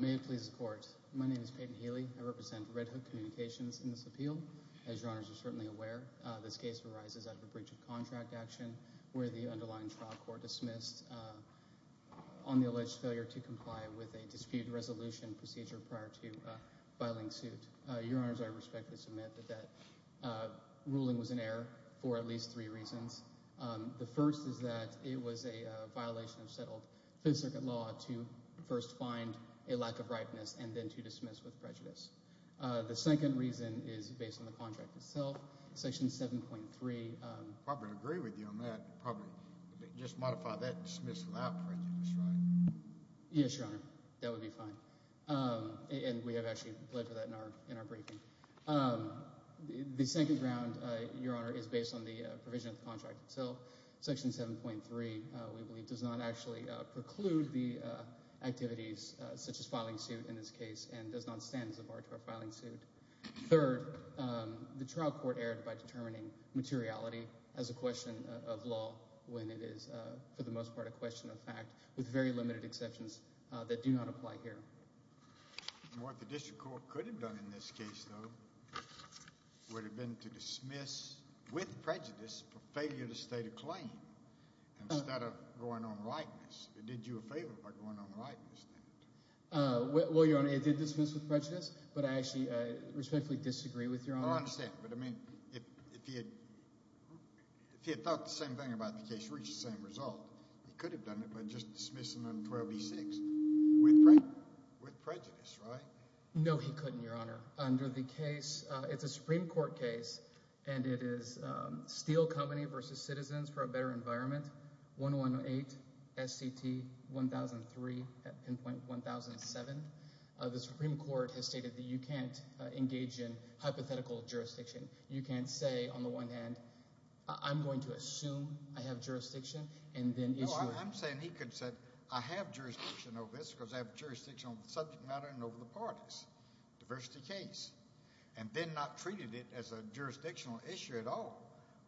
May it please the Court. My name is Peyton Healy. I represent Red Hook Communications in this appeal. As Your Honors are certainly aware, this case arises out of a breach of contract action where the underlying trial court dismissed on the alleged failure to comply with a dispute resolution procedure prior to filing suit. Your Honors, I respectfully submit that that ruling was in error for at least three reasons. The first is that it was a violation of settled Fifth Circuit law to first find a lack of ripeness and then to dismiss with prejudice. The second reason is based on the contract itself, section 7.3. I would agree with you on that. Just modify that, dismiss without prejudice, right? Yes, Your Honor. That would be fine. And we have actually pledged for that in our briefing. The second ground, Your Honor, is based on the provision of the contract itself. Section 7.3, we believe, does not actually preclude the activities such as filing suit in this case and does not stand as a bar to a filing suit. Third, the trial court erred by determining materiality as a question of law when it is, for the most part, a question of fact with very limited exceptions that do not apply here. What the district court could have done in this case, though, would have been to dismiss with prejudice for failure to state a claim instead of going on likeness. It did you a favor by going on likeness then. Well, Your Honor, it did dismiss with prejudice, but I actually respectfully disagree with Your Honor. I understand, but, I mean, if he had thought the same thing about the case, reached the same result, he could have done it by just dismissing on 12B6 with prejudice, right? No, he couldn't, Your Honor. Under the case, it's a Supreme Court case, and it is Steel Company v. Citizens for a Better Environment, 118 S.C.T. 1003 at pinpoint 1007. The Supreme Court has stated that you can't engage in hypothetical jurisdiction. You can't say, on the one hand, I'm going to assume I have jurisdiction and then issue it. No, I'm saying he could have said, I have jurisdiction over this because I have jurisdiction on the subject matter and over the parties, diversity case, and then not treated it as a jurisdictional issue at all,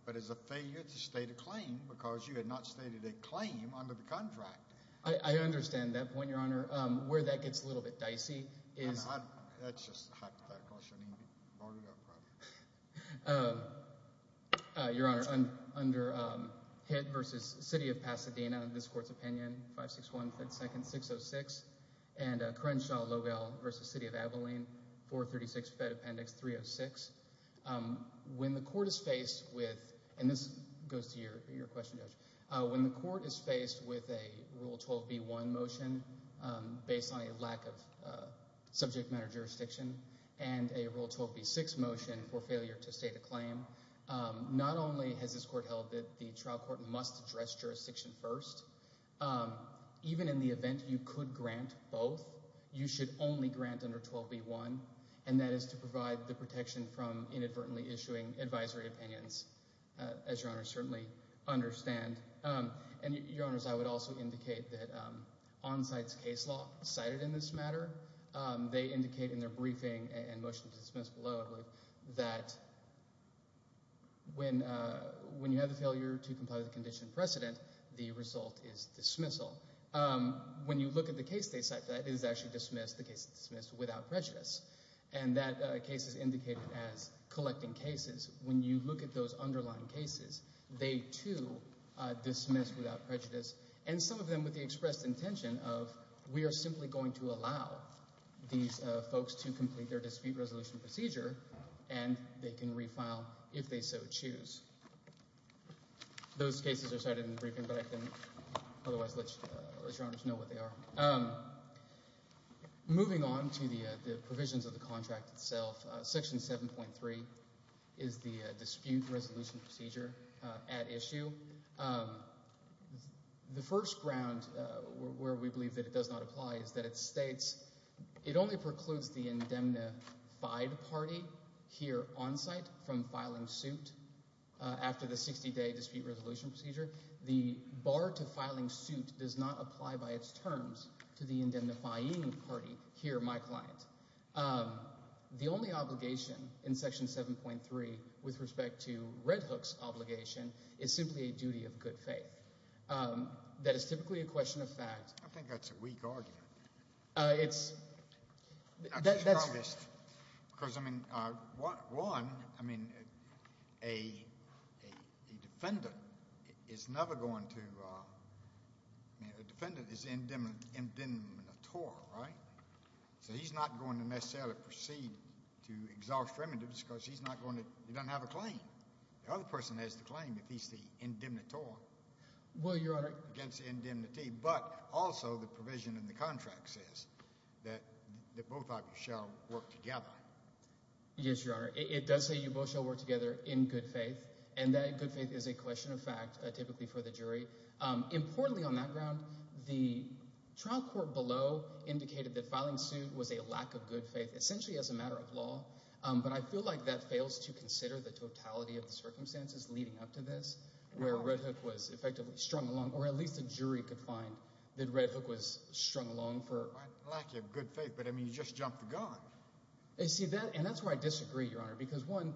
but as a failure to state a claim because you had not stated a claim under the contract. I understand that point, Your Honor. Where that gets a little bit dicey is... That's just hypothetical. Your Honor, under Hitt v. City of Pasadena, this Court's opinion, 561 Ft. 2nd. 606, and Crenshaw-Logel v. City of Abilene, 436 Ft. Appendix 306, when the Court is faced with, and this goes to your question, Judge, when the Court is subject matter jurisdiction and a Rule 12b-6 motion for failure to state a claim, not only has this Court held that the trial court must address jurisdiction first, even in the event you could grant both, you should only grant under 12b-1, and that is to provide the protection from inadvertently issuing advisory opinions, as Your Honor certainly understand. And Your Indicate in their briefing and motion to dismiss below, I believe, that when you have a failure to comply with the condition precedent, the result is dismissal. When you look at the case they cite, that is actually dismissed, the case is dismissed without prejudice. And that case is indicated as collecting cases. When you look at those underlying cases, they, too, dismiss without prejudice. And some of them with the expressed intention of, we are simply going to allow these folks to complete their dispute resolution procedure, and they can refile if they so choose. Those cases are cited in the briefing, but I can otherwise let Your Honors know what they are. Moving on to the provisions of the contract itself, Section 7.3 is the dispute resolution procedure at issue. The first ground where we believe that it does not apply is that it states, it only precludes the indemnified party here on site from filing suit after the 60-day dispute resolution procedure. The bar to filing suit does not apply by its terms to the indemnifying party here, my client. The only obligation in Section 7.3 with respect to Red Hook's obligation is simply a duty of good faith. That is typically a question of facts. I think that's a weak argument. It's... Because, I mean, one, I mean, a defendant is never going to, I mean, a defendant is indemnitorial, right? So he's not going to necessarily proceed to exhaust remittance because he's not going to, he doesn't have a claim. The other person has the obligation against indemnity, but also the provision in the contract says that both of you shall work together. Yes, Your Honor. It does say you both shall work together in good faith, and that good faith is a question of fact, typically for the jury. Importantly on that ground, the trial court below indicated that filing suit was a lack of good faith, essentially as a matter of law, but I feel like that fails to consider the totality of the circumstances leading up to this where Red Hook was effectively strung along, or at least a jury could find that Red Hook was strung along for... A lack of good faith, but, I mean, you just jumped the gun. I see that, and that's where I disagree, Your Honor, because one,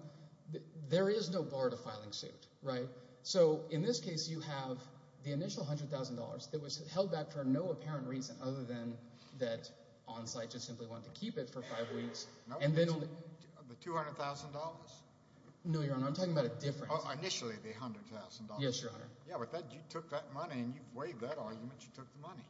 there is no bar to filing suit, right? So in this case, you have the initial $100,000 that was held back for no apparent reason other than that on-site just simply wanted to keep it for five weeks. Initially, the $100,000. Yes, Your Honor. Yeah, but you took that money and you've waived that argument. You took the money.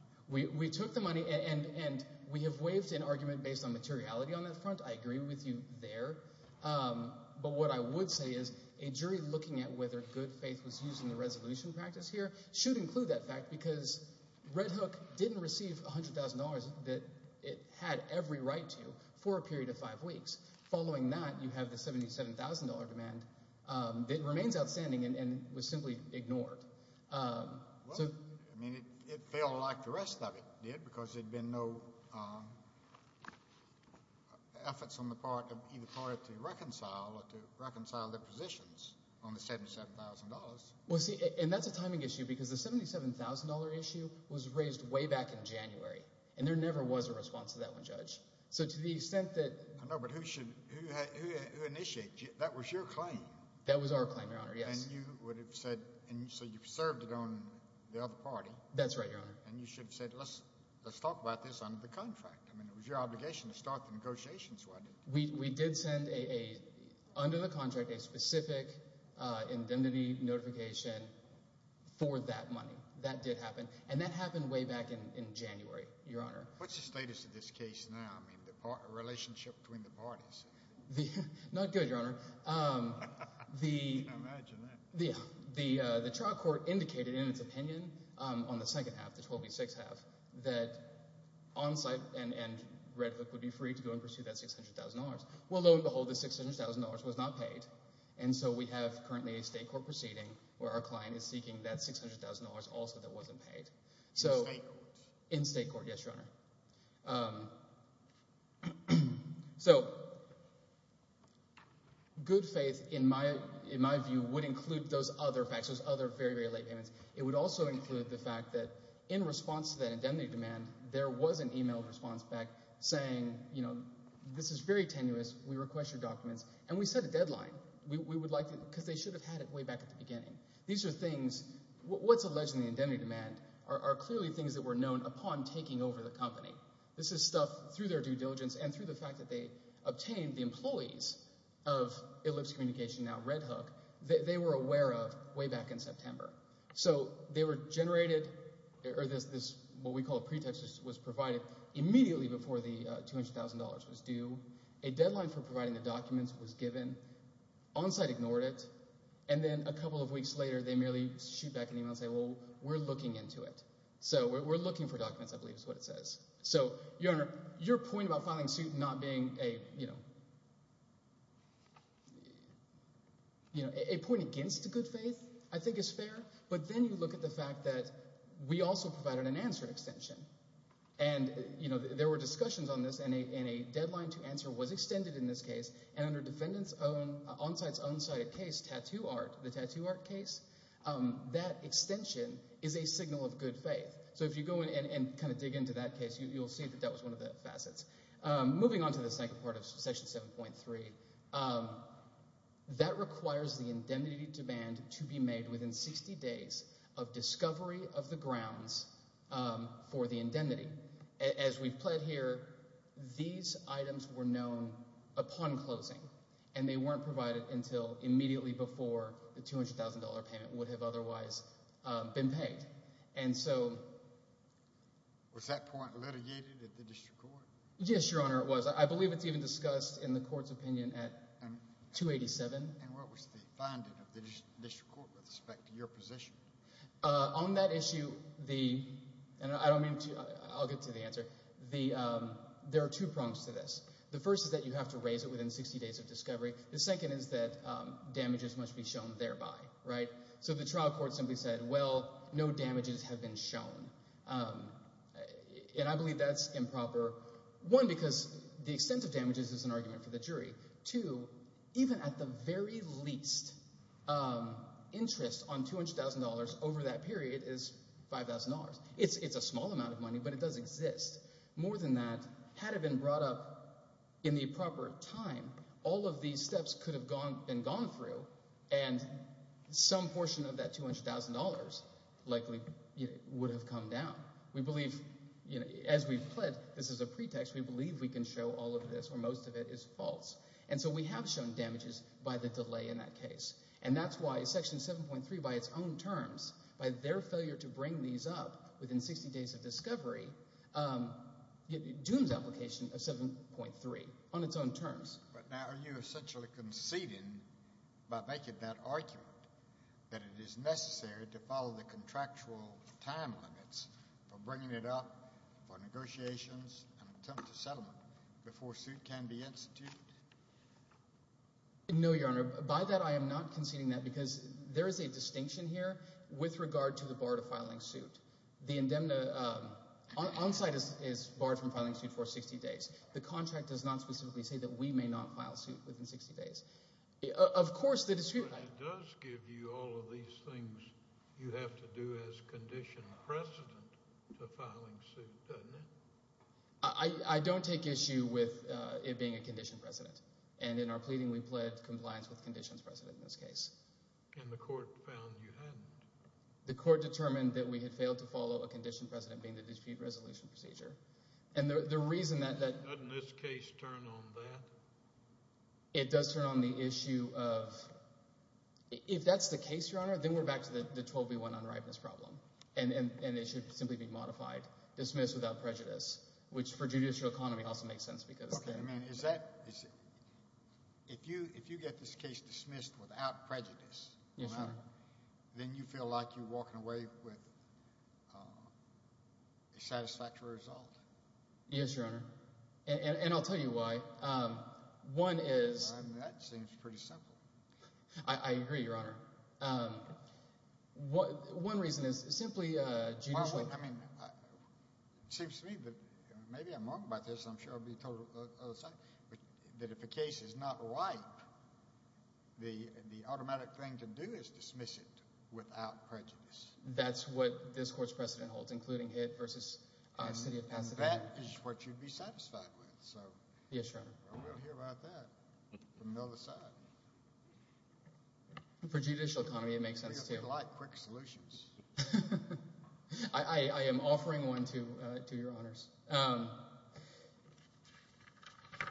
We took the money, and we have waived an argument based on materiality on that front. I agree with you there, but what I would say is a jury looking at whether good faith was used in the resolution practice here should include that fact because Red Hook didn't receive $100,000 that it had every right to for a period of five weeks. Following that, you have the $77,000 demand that remains outstanding and was simply ignored. Well, I mean, it felt like the rest of it did because there'd been no efforts on the part of either party to reconcile or to reconcile their positions on the $77,000. Well, see, and that's a timing issue because the $77,000 issue was raised way back in January, and there never was a response to that one, Judge. So to the extent that... No, but who initiated? That was your claim. That was our claim, Your Honor, yes. And you would have said, and so you've served it on the other party. That's right, Your Honor. And you should have said, let's talk about this under the contract. I mean, it was your obligation to start the negotiations. Why didn't you? We did send a, under the contract, a specific indemnity notification for that money. That did happen, and that happened way back in January, Your Honor. What's the status of this case now? I mean, the relationship between the parties? Not good, Your Honor. Can't imagine that. The trial court indicated in its opinion, on the second half, the 12 v. 6 half, that Onsite and Red Hook would be free to go and pursue that $600,000. Well, lo and behold, the $600,000 was not paid, and so we have currently a state court proceeding where our client is seeking that $600,000 also that wasn't paid. In state court? Yes, Your Honor. So good faith, in my view, would include those other facts, those other very, very late payments. It would also include the fact that in response to that indemnity demand, there was an e-mail response back saying, you know, this is very tenuous. We request your documents. And we set a deadline. We would like to, because they should have had it way back at the beginning. These are things, what's alleged in the indemnity demand are clearly things that were known upon taking over the company. This is stuff through their due diligence and through the fact that they obtained the employees of Ellipse Communication, now Red Hook, that they were aware of way back in September. So they were generated, or this, what we call a pretext, was provided immediately before the $200,000 was due. A deadline for providing the documents was given. Onsite ignored it. And then a couple of weeks later, they merely shoot back an e-mail and say, well, we're looking into it. So we're looking for documents, I believe is what it says. So, Your Honor, your point about filing suit not being a, you know, you know, a point against good faith, I think is fair. But then you look at the fact that we also provided an answer extension. And, you know, there were discussions on this, and a deadline to answer was extended in this case. And under defendants' own, onsite's own cited case, tattoo art, the tattoo art case, that extension is a signal of good faith. So if you go in and kind of dig into that case, you'll see that that was one of the facets. Moving on to the second part of Section 7.3, that requires the indemnity demand to be made within 60 days of discovery of the grounds for the indemnity. As we've pled here, these items were not provided until immediately before the $200,000 payment would have otherwise been paid. And so... Was that point litigated at the district court? Yes, Your Honor, it was. I believe it's even discussed in the court's opinion at 287. And what was the finding of the district court with respect to your position? On that issue, the, and I don't mean to, I'll get to the answer. The, there are two prongs to this. The first is that you have to raise it within 60 days of discovery. The second is that damages must be shown thereby, right? So the trial court simply said, well, no damages have been shown. And I believe that's improper. One, because the extent of damages is an argument for the jury. Two, even at the very least, interest on $200,000 over that period is $5,000. It's a small amount of money, but it does exist. More than that, had it been brought up in the proper time, all of these steps could have gone, been gone through and some portion of that $200,000 likely would have come down. We believe, you know, as we've pled, this is a pretext. We believe we can show all of this, or most of it is false. And so we have shown damages by the delay in that case. And that's why Section 7.3 by its own terms, by their failure to bring these up within 60 days of discovery, dooms application of 7.3 on its own terms. But now are you essentially conceding by making that argument that it is necessary to follow the contractual time limits for bringing it up for negotiations and attempt to settlement before suit can be instituted? No, Your Honor. By that, I am not conceding that because there is a distinction here with regard to the bar to filing suit. The indemna on-site is barred from filing suit for 60 days. The contract does not specifically say that we may not file suit within 60 days. Of course, the dispute- But it does give you all of these things you have to do as condition precedent to filing suit, doesn't it? I don't take issue with it being a condition precedent. And in our pleading, we pled compliance with conditions precedent in this case. And the court found you hadn't? The court determined that we had failed to follow a condition precedent being the dispute resolution procedure. And the reason that- Doesn't this case turn on that? It does turn on the issue of, if that's the case, Your Honor, then we're back to the 12B1 unrighteousness problem. And it should simply be dismissed without prejudice, which for judicial economy also makes sense because- Okay. I mean, is that- If you get this case dismissed without prejudice, then you feel like you're walking away with a satisfactory result? Yes, Your Honor. And I'll tell you why. One is- I mean, that seems pretty simple. I agree, Your Honor. One reason is simply- I mean, it seems to me that maybe I'm wrong about this. I'm sure I'll be told that if a case is not right, the automatic thing to do is dismiss it without prejudice. That's what this court's precedent holds, including it versus City of Pasadena. And that is what you'd be satisfied with. So- Yes, Your Honor. We'll hear about that from the other side. For judicial economy, it makes sense too. A lot of quick solutions. I am offering one to Your Honors.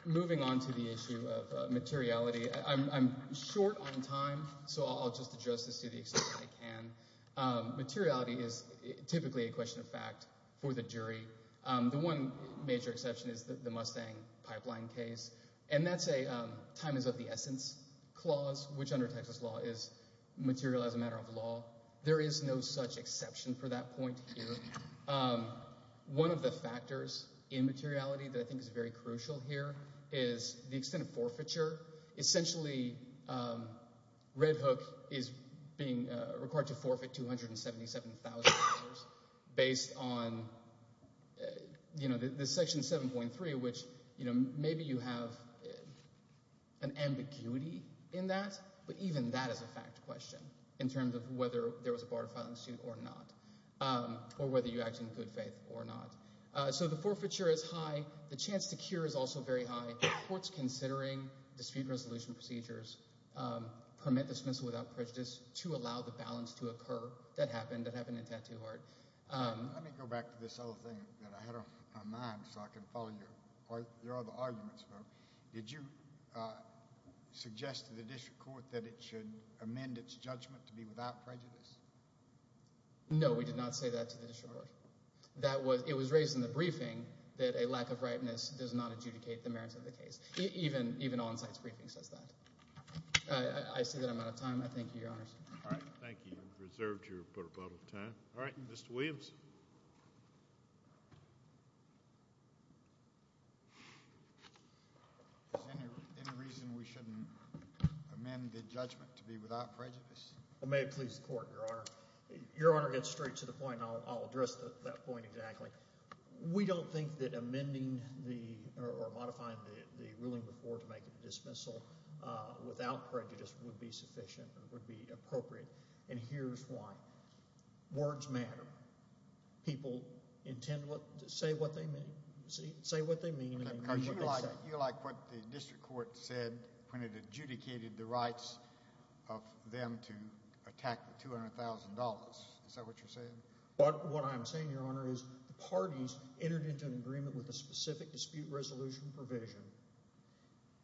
Moving on to the issue of materiality, I'm short on time, so I'll just address this to the extent that I can. Materiality is typically a question of fact for the jury. The one major exception is the Mustang Pipeline case. And that's a time is of the essence clause, which under Texas law is material as a matter of law. There is no such exception for that point here. One of the factors in materiality that I think is very crucial here is the extent of forfeiture. Essentially, Red Hook is being required to forfeit $277,000 based on, you know, Section 7.3, which, you know, maybe you have an ambiguity in that, but even that is a fact question in terms of whether there was a bar to file in suit or not, or whether you act in good faith or not. So the forfeiture is high. The chance to cure is also very high. Courts considering dispute resolution procedures permit dismissal without prejudice to allow the balance to occur. That happened. That happened in Tattoo Heart. Let me go back to this other thing that I had on my mind so I can follow your other arguments. Did you suggest to the district court that it should amend its judgment to be without prejudice? No, we did not say that to the district court. It was raised in the briefing that a lack of rightness does not adjudicate the merits of the case. Even on-site's briefing says that. I say that I'm out of time. I thank you, Your Honors. All right, thank you. You've reserved your but a bottle of time. All right, Mr. Williams. Is there any reason we shouldn't amend the judgment to be without prejudice? May it please the Court, Your Honor. Your Honor gets straight to the point. I'll address that point exactly. We don't think that amending or modifying the ruling before to make a dismissal without prejudice would be sufficient or would be appropriate, and here's why. Words matter. People intend to say what they mean. You like what the district court said when it adjudicated the rights of them to attack the $200,000. Is that what you're saying? What I'm saying, Your Honor, is the parties entered into an agreement with a specific dispute resolution provision.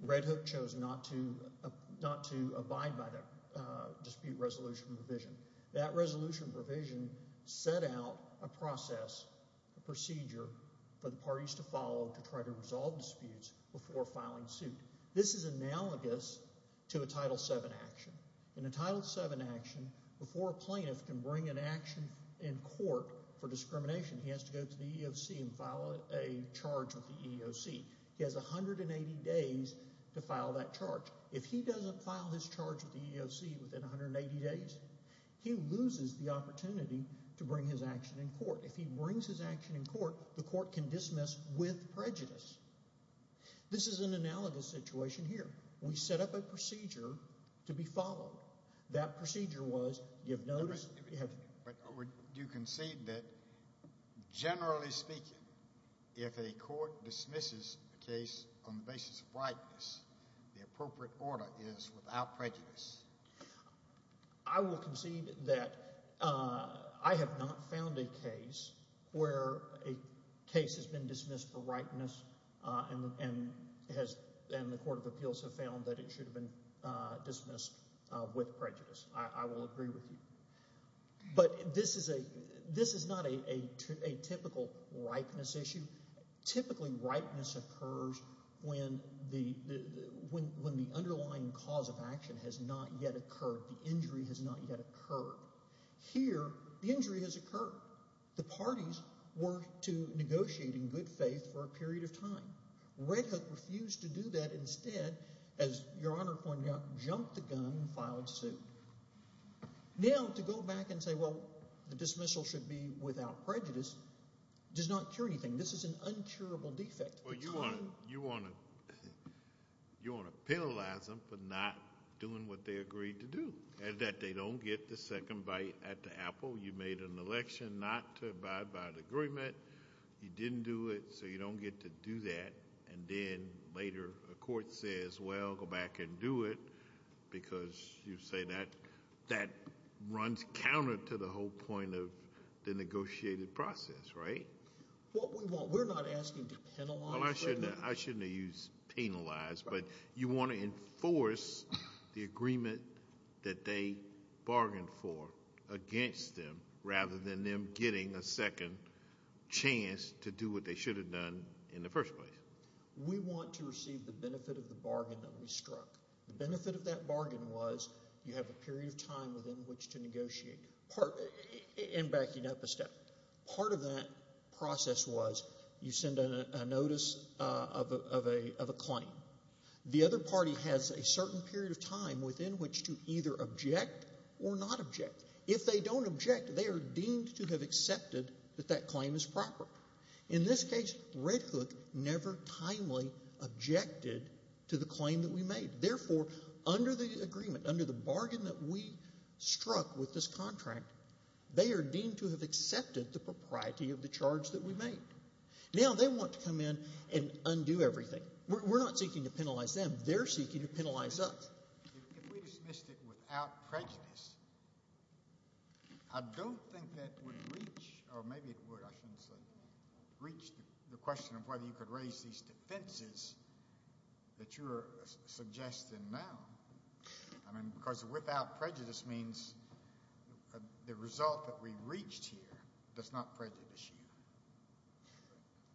Red Hook chose not to abide by that dispute resolution provision. That resolution provision set out a process, a procedure, for the parties to follow to try to resolve disputes before filing suit. This is analogous to a Title VII action. In a Title VII action, before a plaintiff can bring an action in court for discrimination, he has to go to the EEOC and has 180 days to file that charge. If he doesn't file his charge with the EEOC within 180 days, he loses the opportunity to bring his action in court. If he brings his action in court, the court can dismiss with prejudice. This is an analogous situation here. We set up a procedure to be followed. That procedure was give notice. Would you concede that, generally speaking, if a court dismisses a case on the basis of rightness, the appropriate order is without prejudice? I will concede that I have not found a case where a case has been dismissed for rightness and the Court of Appeals have found that it should have been dismissed with prejudice. I will agree with you. But this is not a typical rightness issue. Typically, rightness occurs when the underlying cause of action has not yet occurred. The injury has not yet occurred. Here, the injury has occurred. The parties were to negotiate in jump the gun and file a suit. To go back and say the dismissal should be without prejudice does not cure anything. This is an uncurable defect. You want to penalize them for not doing what they agreed to do. They don't get the second bite at the apple. You made an election not to abide by the agreement. You didn't do it, so you don't get to do that. Then, later, a court says, well, go back and do it because you say that runs counter to the whole point of the negotiated process, right? Well, we're not asking to penalize. I shouldn't have used penalize, but you want to enforce the agreement that they bargained for against them rather than them getting a second chance to do what they should have done in the first place. We want to receive the benefit of the bargain that we struck. The benefit of that bargain was you have a period of time within which to negotiate and backing up a step. Part of that process was you send a notice of a claim. The other party has a certain period of time within which to either object or not object. If they don't object, they are deemed to have accepted that that claim is to the claim that we made. Therefore, under the agreement, under the bargain that we struck with this contract, they are deemed to have accepted the propriety of the charge that we made. Now, they want to come in and undo everything. We're not seeking to penalize them. They're seeking to penalize us. If we dismissed it without prejudice, I don't think that would reach, or maybe it would, I shouldn't say, reach the question of whether you could raise these defenses that you're suggesting now. I mean, because without prejudice means the result that we reached here does not prejudice you.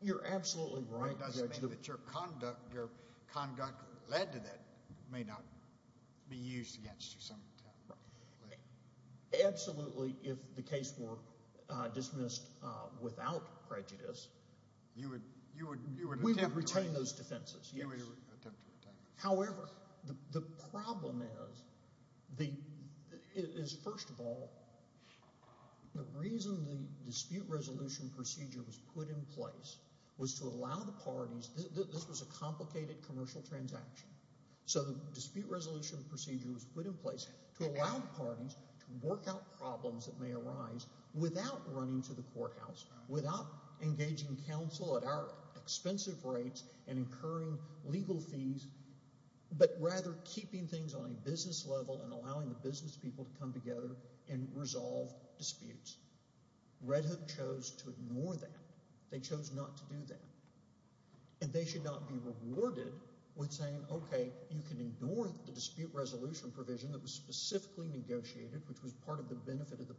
You're absolutely right. It doesn't mean that your conduct, your conduct led to that may not be used against you. Absolutely. If the case were dismissed without prejudice, you would, you would, retain those defenses. However, the problem is, first of all, the reason the dispute resolution procedure was put in place was to allow the parties, this was a complicated commercial transaction, so the dispute resolution procedure was put in place to allow parties to work out problems that may arise without running to the courthouse, without engaging counsel at our expensive rates and incurring legal fees, but rather keeping things on a business level and allowing the business people to come together and resolve disputes. Red Hook chose to ignore that. They chose not to do that, and they should not be rewarded with saying, okay, you can ignore the dispute resolution provision that was specifically negotiated, which was part of the benefit of the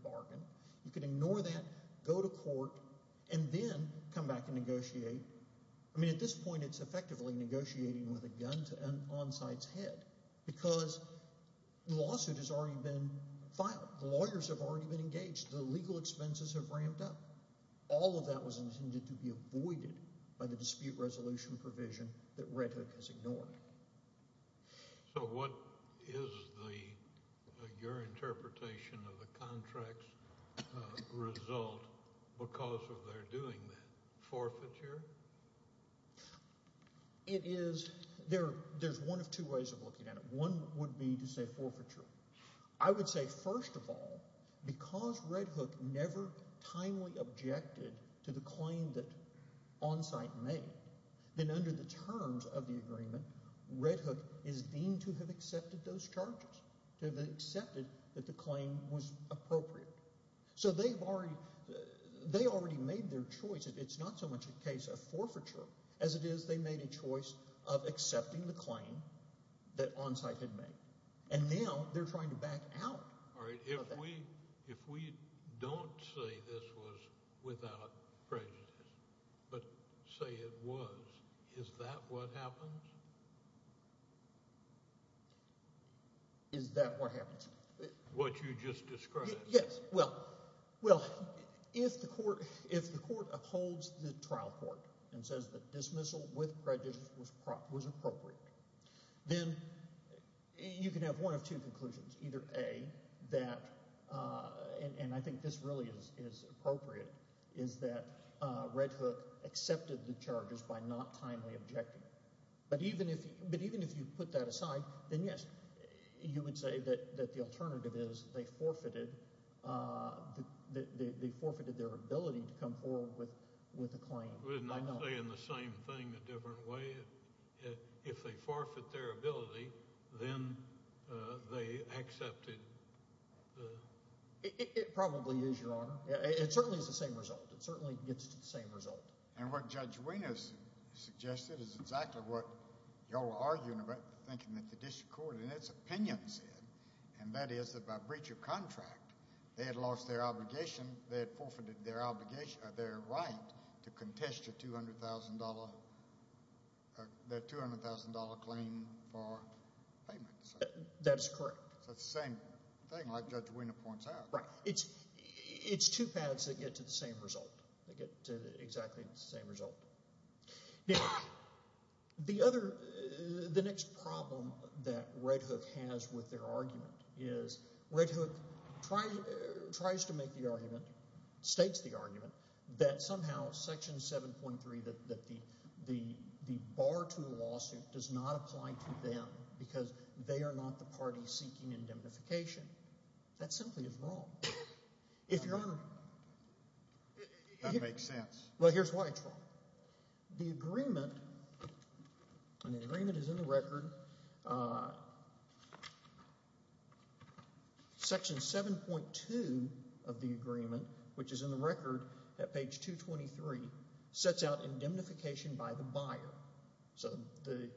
I mean, at this point, it's effectively negotiating with a gun to an on-site's head because the lawsuit has already been filed. The lawyers have already been engaged. The legal expenses have ramped up. All of that was intended to be avoided by the dispute resolution provision that Red Hook has ignored. So what is the, your interpretation of the contract's because of their doing that? Forfeiture? It is, there's one of two ways of looking at it. One would be to say forfeiture. I would say, first of all, because Red Hook never timely objected to the claim that on-site made, then under the terms of the agreement, Red Hook is deemed to have accepted those charges, to have accepted that the claim was appropriate. So they've already, they already made their choice. It's not so much a case of forfeiture as it is they made a choice of accepting the claim that on-site had made, and now they're trying to back out. All right, if we don't say this was without prejudice, but say it was, is that what happens? Is that what happens? What you just described? Yes, well, well, if the court, if the court upholds the trial court and says that dismissal with prejudice was appropriate, then you can have one of two conclusions. Either A, that, and I think this really is appropriate, is that Red Hook accepted the charges by not timely objecting. But even if, but even if you put that aside, then yes, you would say that, that the alternative is they forfeited, that they forfeited their ability to come forward with, with a claim. Wouldn't that say in the same thing a different way? If they forfeit their ability, then they accepted. It probably is, Your Honor. It certainly is the same result. It certainly gets to the same result. And what Judge Wiener suggested is exactly what y'all are arguing about, thinking that the district court in its opinion said, and that is that by breach of contract, they had lost their obligation, they had forfeited their obligation, their right to contest your $200,000, their $200,000 claim for payments. That is correct. So it's the same thing like Judge Wiener points out. Right. It's, it's two paths that get to the same result. They get to exactly the same result. Now, the other, the next problem that Red Hook has with their argument is Red Hook tries, tries to make the argument, states the argument, that somehow Section 7.3, that, that the, the, the bar to the lawsuit does not apply to them because they are not the party seeking indemnification. That simply is wrong. If Your Honor. That makes sense. Well, here's why it's wrong. The agreement, and the agreement is in the record, Section 7.2 of the agreement, which is in record at page 223, sets out indemnification by the buyer. So the,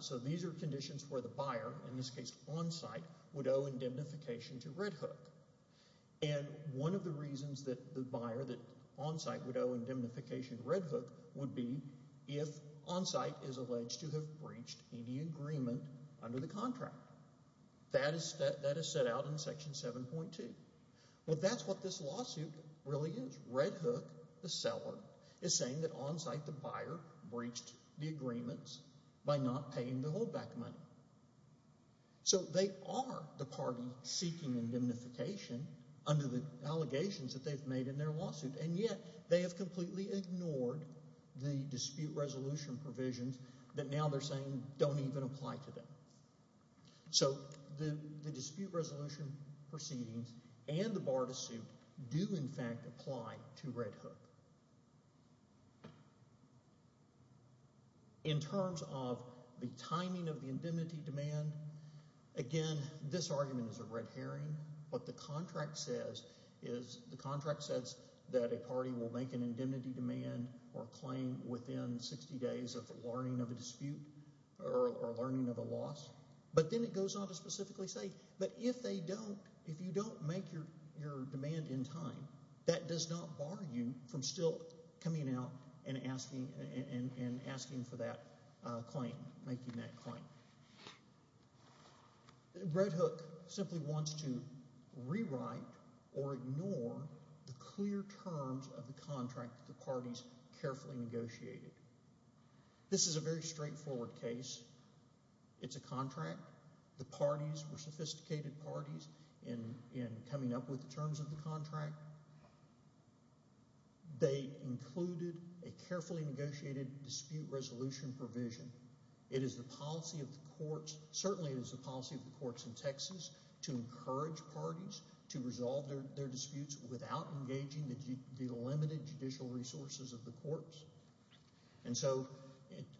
so these are conditions where the buyer, in this case Onsite, would owe indemnification to Red Hook. And one of the reasons that the buyer that Onsite would owe indemnification to Red Hook would be if Onsite is alleged to have breached any agreement under the contract. That is, that is set out in Section 7.2. Well, that's what this lawsuit really is. Red Hook, the seller, is saying that Onsite, the buyer, breached the agreements by not paying the holdback money. So they are the party seeking indemnification under the allegations that they've made in their lawsuit, and yet they have completely ignored the dispute resolution provisions that now they're saying don't even apply to them. So the dispute resolution proceedings and the bar to suit do, in fact, apply to Red Hook. In terms of the timing of the indemnity demand, again, this argument is a red herring. What the contract says is, the contract says that a party will make an indemnity demand or claim within 60 days of the learning of a dispute or learning of a loss, but then it goes on to specifically say, but if they don't, if you don't make your demand in time, that does not bar you from still coming out and asking for that claim, making that claim. Red Hook simply wants to rewrite or ignore the This is a very straightforward case. It's a contract. The parties were sophisticated parties in coming up with the terms of the contract. They included a carefully negotiated dispute resolution provision. It is the policy of the courts, certainly it is the policy of the courts in Texas, to encourage parties to resolve their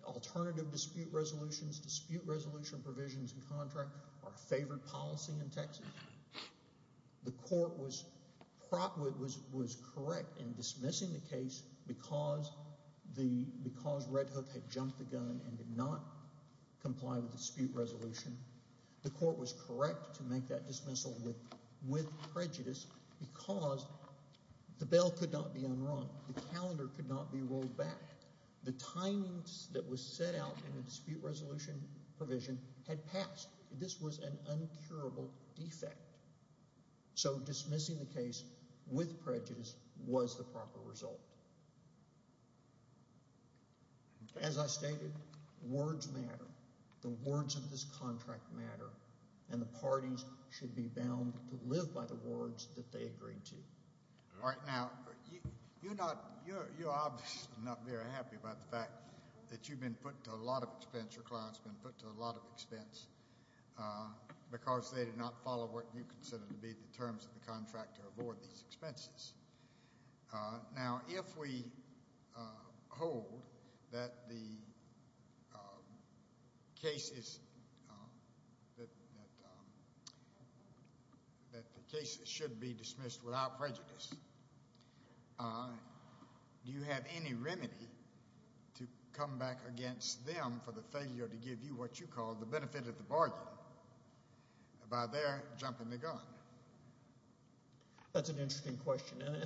alternative dispute resolutions, dispute resolution provisions, and contracts are a favored policy in Texas. The court was correct in dismissing the case because Red Hook had jumped the gun and did not comply with the dispute resolution. The court was correct to make that dismissal with prejudice because the bail could not be unwrung, the calendar could not be rolled back, the timings that was set out in the dispute resolution provision had passed. This was an uncurable defect. So dismissing the case with prejudice was the proper result. As I stated, words matter. The words of this contract matter and the parties should be bound to live by the words that they agreed to. All right, now you're obviously not very happy about the fact that you've been put to a lot of expense, your client's been put to a lot of expense because they did not follow what you considered to be the terms of the contract to avoid these expenses. Now if we hold that the cases should be dismissed without prejudice, do you have any remedy to come back against them for the failure to give you what you call the benefit of the bargain by their jumping the gun? That's an interesting question and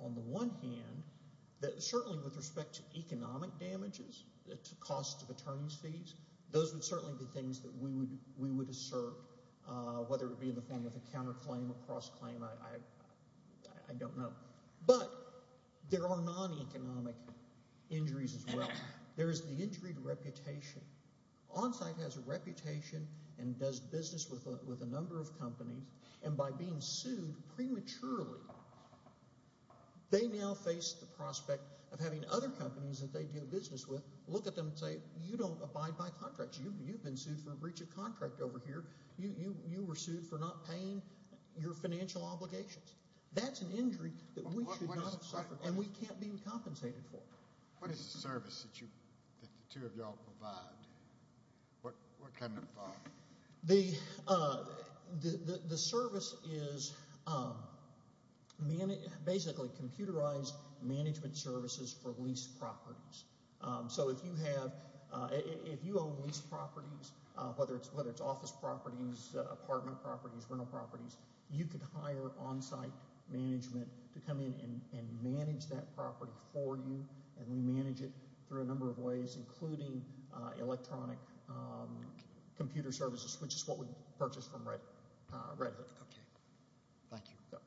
on the one hand, certainly with respect to economic damages, the cost of attorney's fees, those would certainly be things that we would assert, whether it be in the form of a counterclaim or cross-claim, I don't know. But there are non-economic injuries as well. There is the injury to reputation. Onsite has a reputation and does business with a number of companies and by being sued prematurely, they now face the prospect of having other companies that they do business with look at them and say, you don't abide by contracts, you've been sued for breach of contract over here, you were sued for not paying your financial obligations. That's an injury that we should not have suffered and we can't be compensated for. What is the service that the two of y'all provide? What kind of? The service is basically computerized management services for lease properties. So if you own lease properties, whether it's office properties, apartment properties, rental properties, you could hire onsite management to come in and include electronic computer services, which is what we purchased from Red Hook. Okay. Thank you.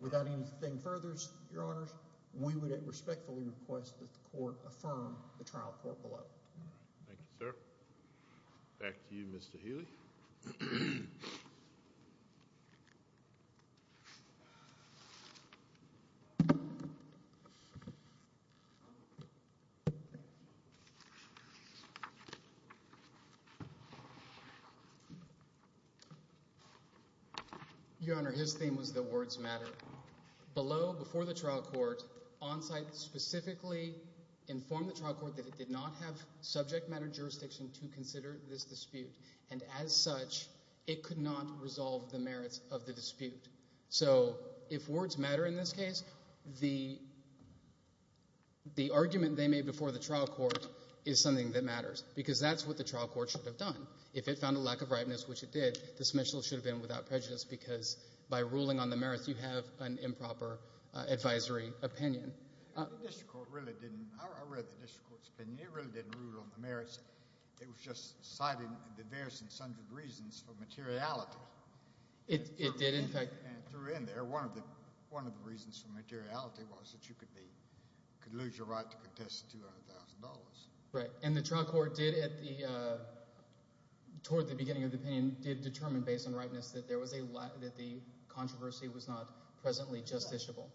Without anything further, Your Honors, we would respectfully request that the court affirm the trial court below. Thank you, sir. Back to you, Mr. Healy. Your Honor, his theme was that words matter. Below, before the trial court, onsite specifically informed the trial court that it did not have subject matter jurisdiction to consider this dispute and as such, it could not resolve the merits of the dispute. So if words matter in this case, the argument they made before the trial court is something that matters because that's what the trial court should have done. If it found a lack of ripeness, which it did, dismissal should have been without prejudice because by ruling on the merits, you have an improper advisory opinion. The district court really didn't. I read the district court's opinion. It really didn't rule on the merits. It was just citing diverse and sundered reasons for materiality. It did, in fact. One of the reasons for materiality was that you could be, could lose your right to contest the $200,000. Right, and the trial court did at the, toward the beginning of the opinion, did determine based on ripeness that there was a, that the controversy was not presently justiciable.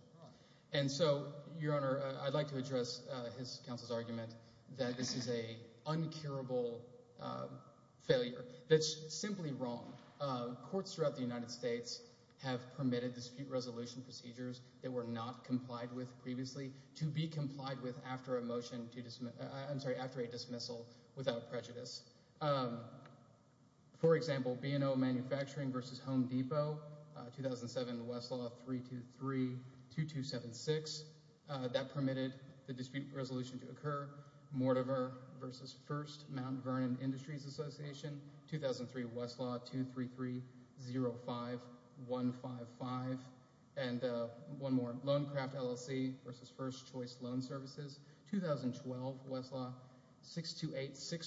And so, Your Honor, I'd like to address his counsel's argument that this is a uncurable failure that's simply wrong. Courts throughout the United States have permitted dispute resolution procedures that were not complied with previously to be complied with after a motion to dismiss, I'm sorry, after a dismissal without prejudice. For example, B&O Manufacturing v. Home Depot, 2007 Westlaw 323-2276. That permitted the dispute resolution to occur. Mortimer v. First Mount Vernon Industries Association, 2003 Westlaw 233-05155. And one more, Lonecraft LLC v. First Choice Loan Services, 2012 Westlaw 628-617.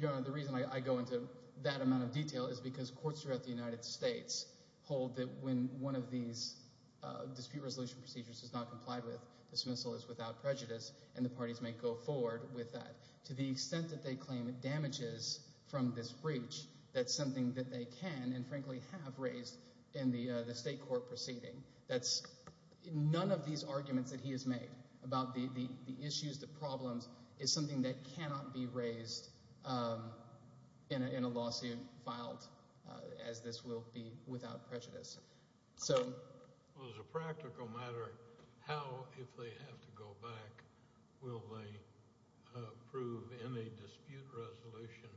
Your Honor, the reason I go into that amount of detail is because courts throughout the United States hold that when one of these dispute resolution procedures is not complied with, dismissal is without prejudice, and the parties may go forward with that. To the from this breach, that's something that they can and frankly have raised in the state court proceeding. That's none of these arguments that he has made about the issues, the problems, is something that cannot be raised in a lawsuit filed as this will be without prejudice. So as a practical matter, how, if they have to go back, will they prove in a dispute resolution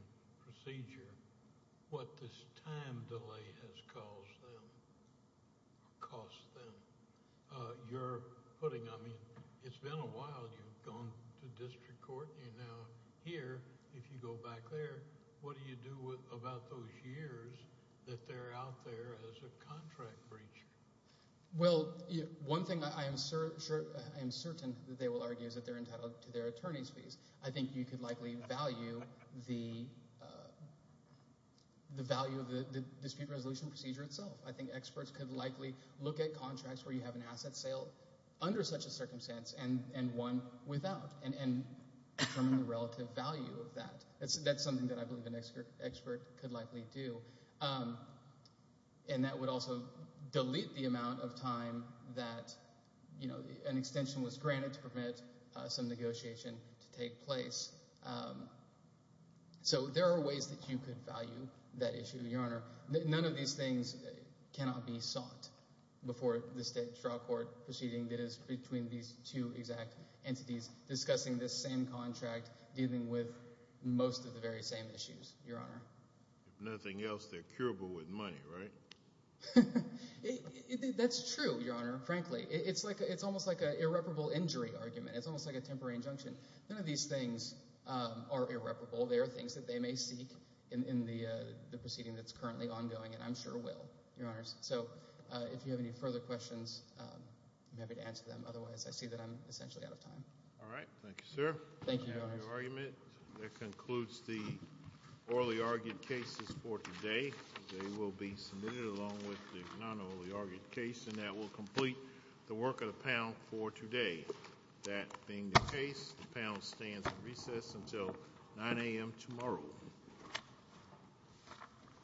procedure what this time delay has caused them, cost them? You're putting, I mean, it's been a while you've gone to district court, and now here, if you go back there, what do you do about those years that they're out there as a breach? Well, one thing I am certain that they will argue is that they're entitled to their attorney's fees. I think you could likely value the value of the dispute resolution procedure itself. I think experts could likely look at contracts where you have an asset sale under such a circumstance and one without, and determine the relative value of that. That's something that I believe an expert could likely do, and that would also delete the amount of time that, you know, an extension was granted to permit some negotiation to take place. So there are ways that you could value that issue, Your Honor. None of these things cannot be sought before the state trial court proceeding that is between these two exact entities discussing this same contract dealing with most of the very same issues, Your Honor. If nothing else, they're curable with money, right? That's true, Your Honor, frankly. It's almost like an irreparable injury argument. It's almost like a temporary injunction. None of these things are irreparable. They are things that they may seek in the proceeding that's currently ongoing, and I'm sure will, Your Honors. So if you have any All right. Thank you, sir. Thank you, Your Honor. That concludes the orally argued cases for today. They will be submitted along with the non-orally argued case, and that will complete the work of the panel for today. That being the case, the panel stands at recess until 9 a.m. tomorrow.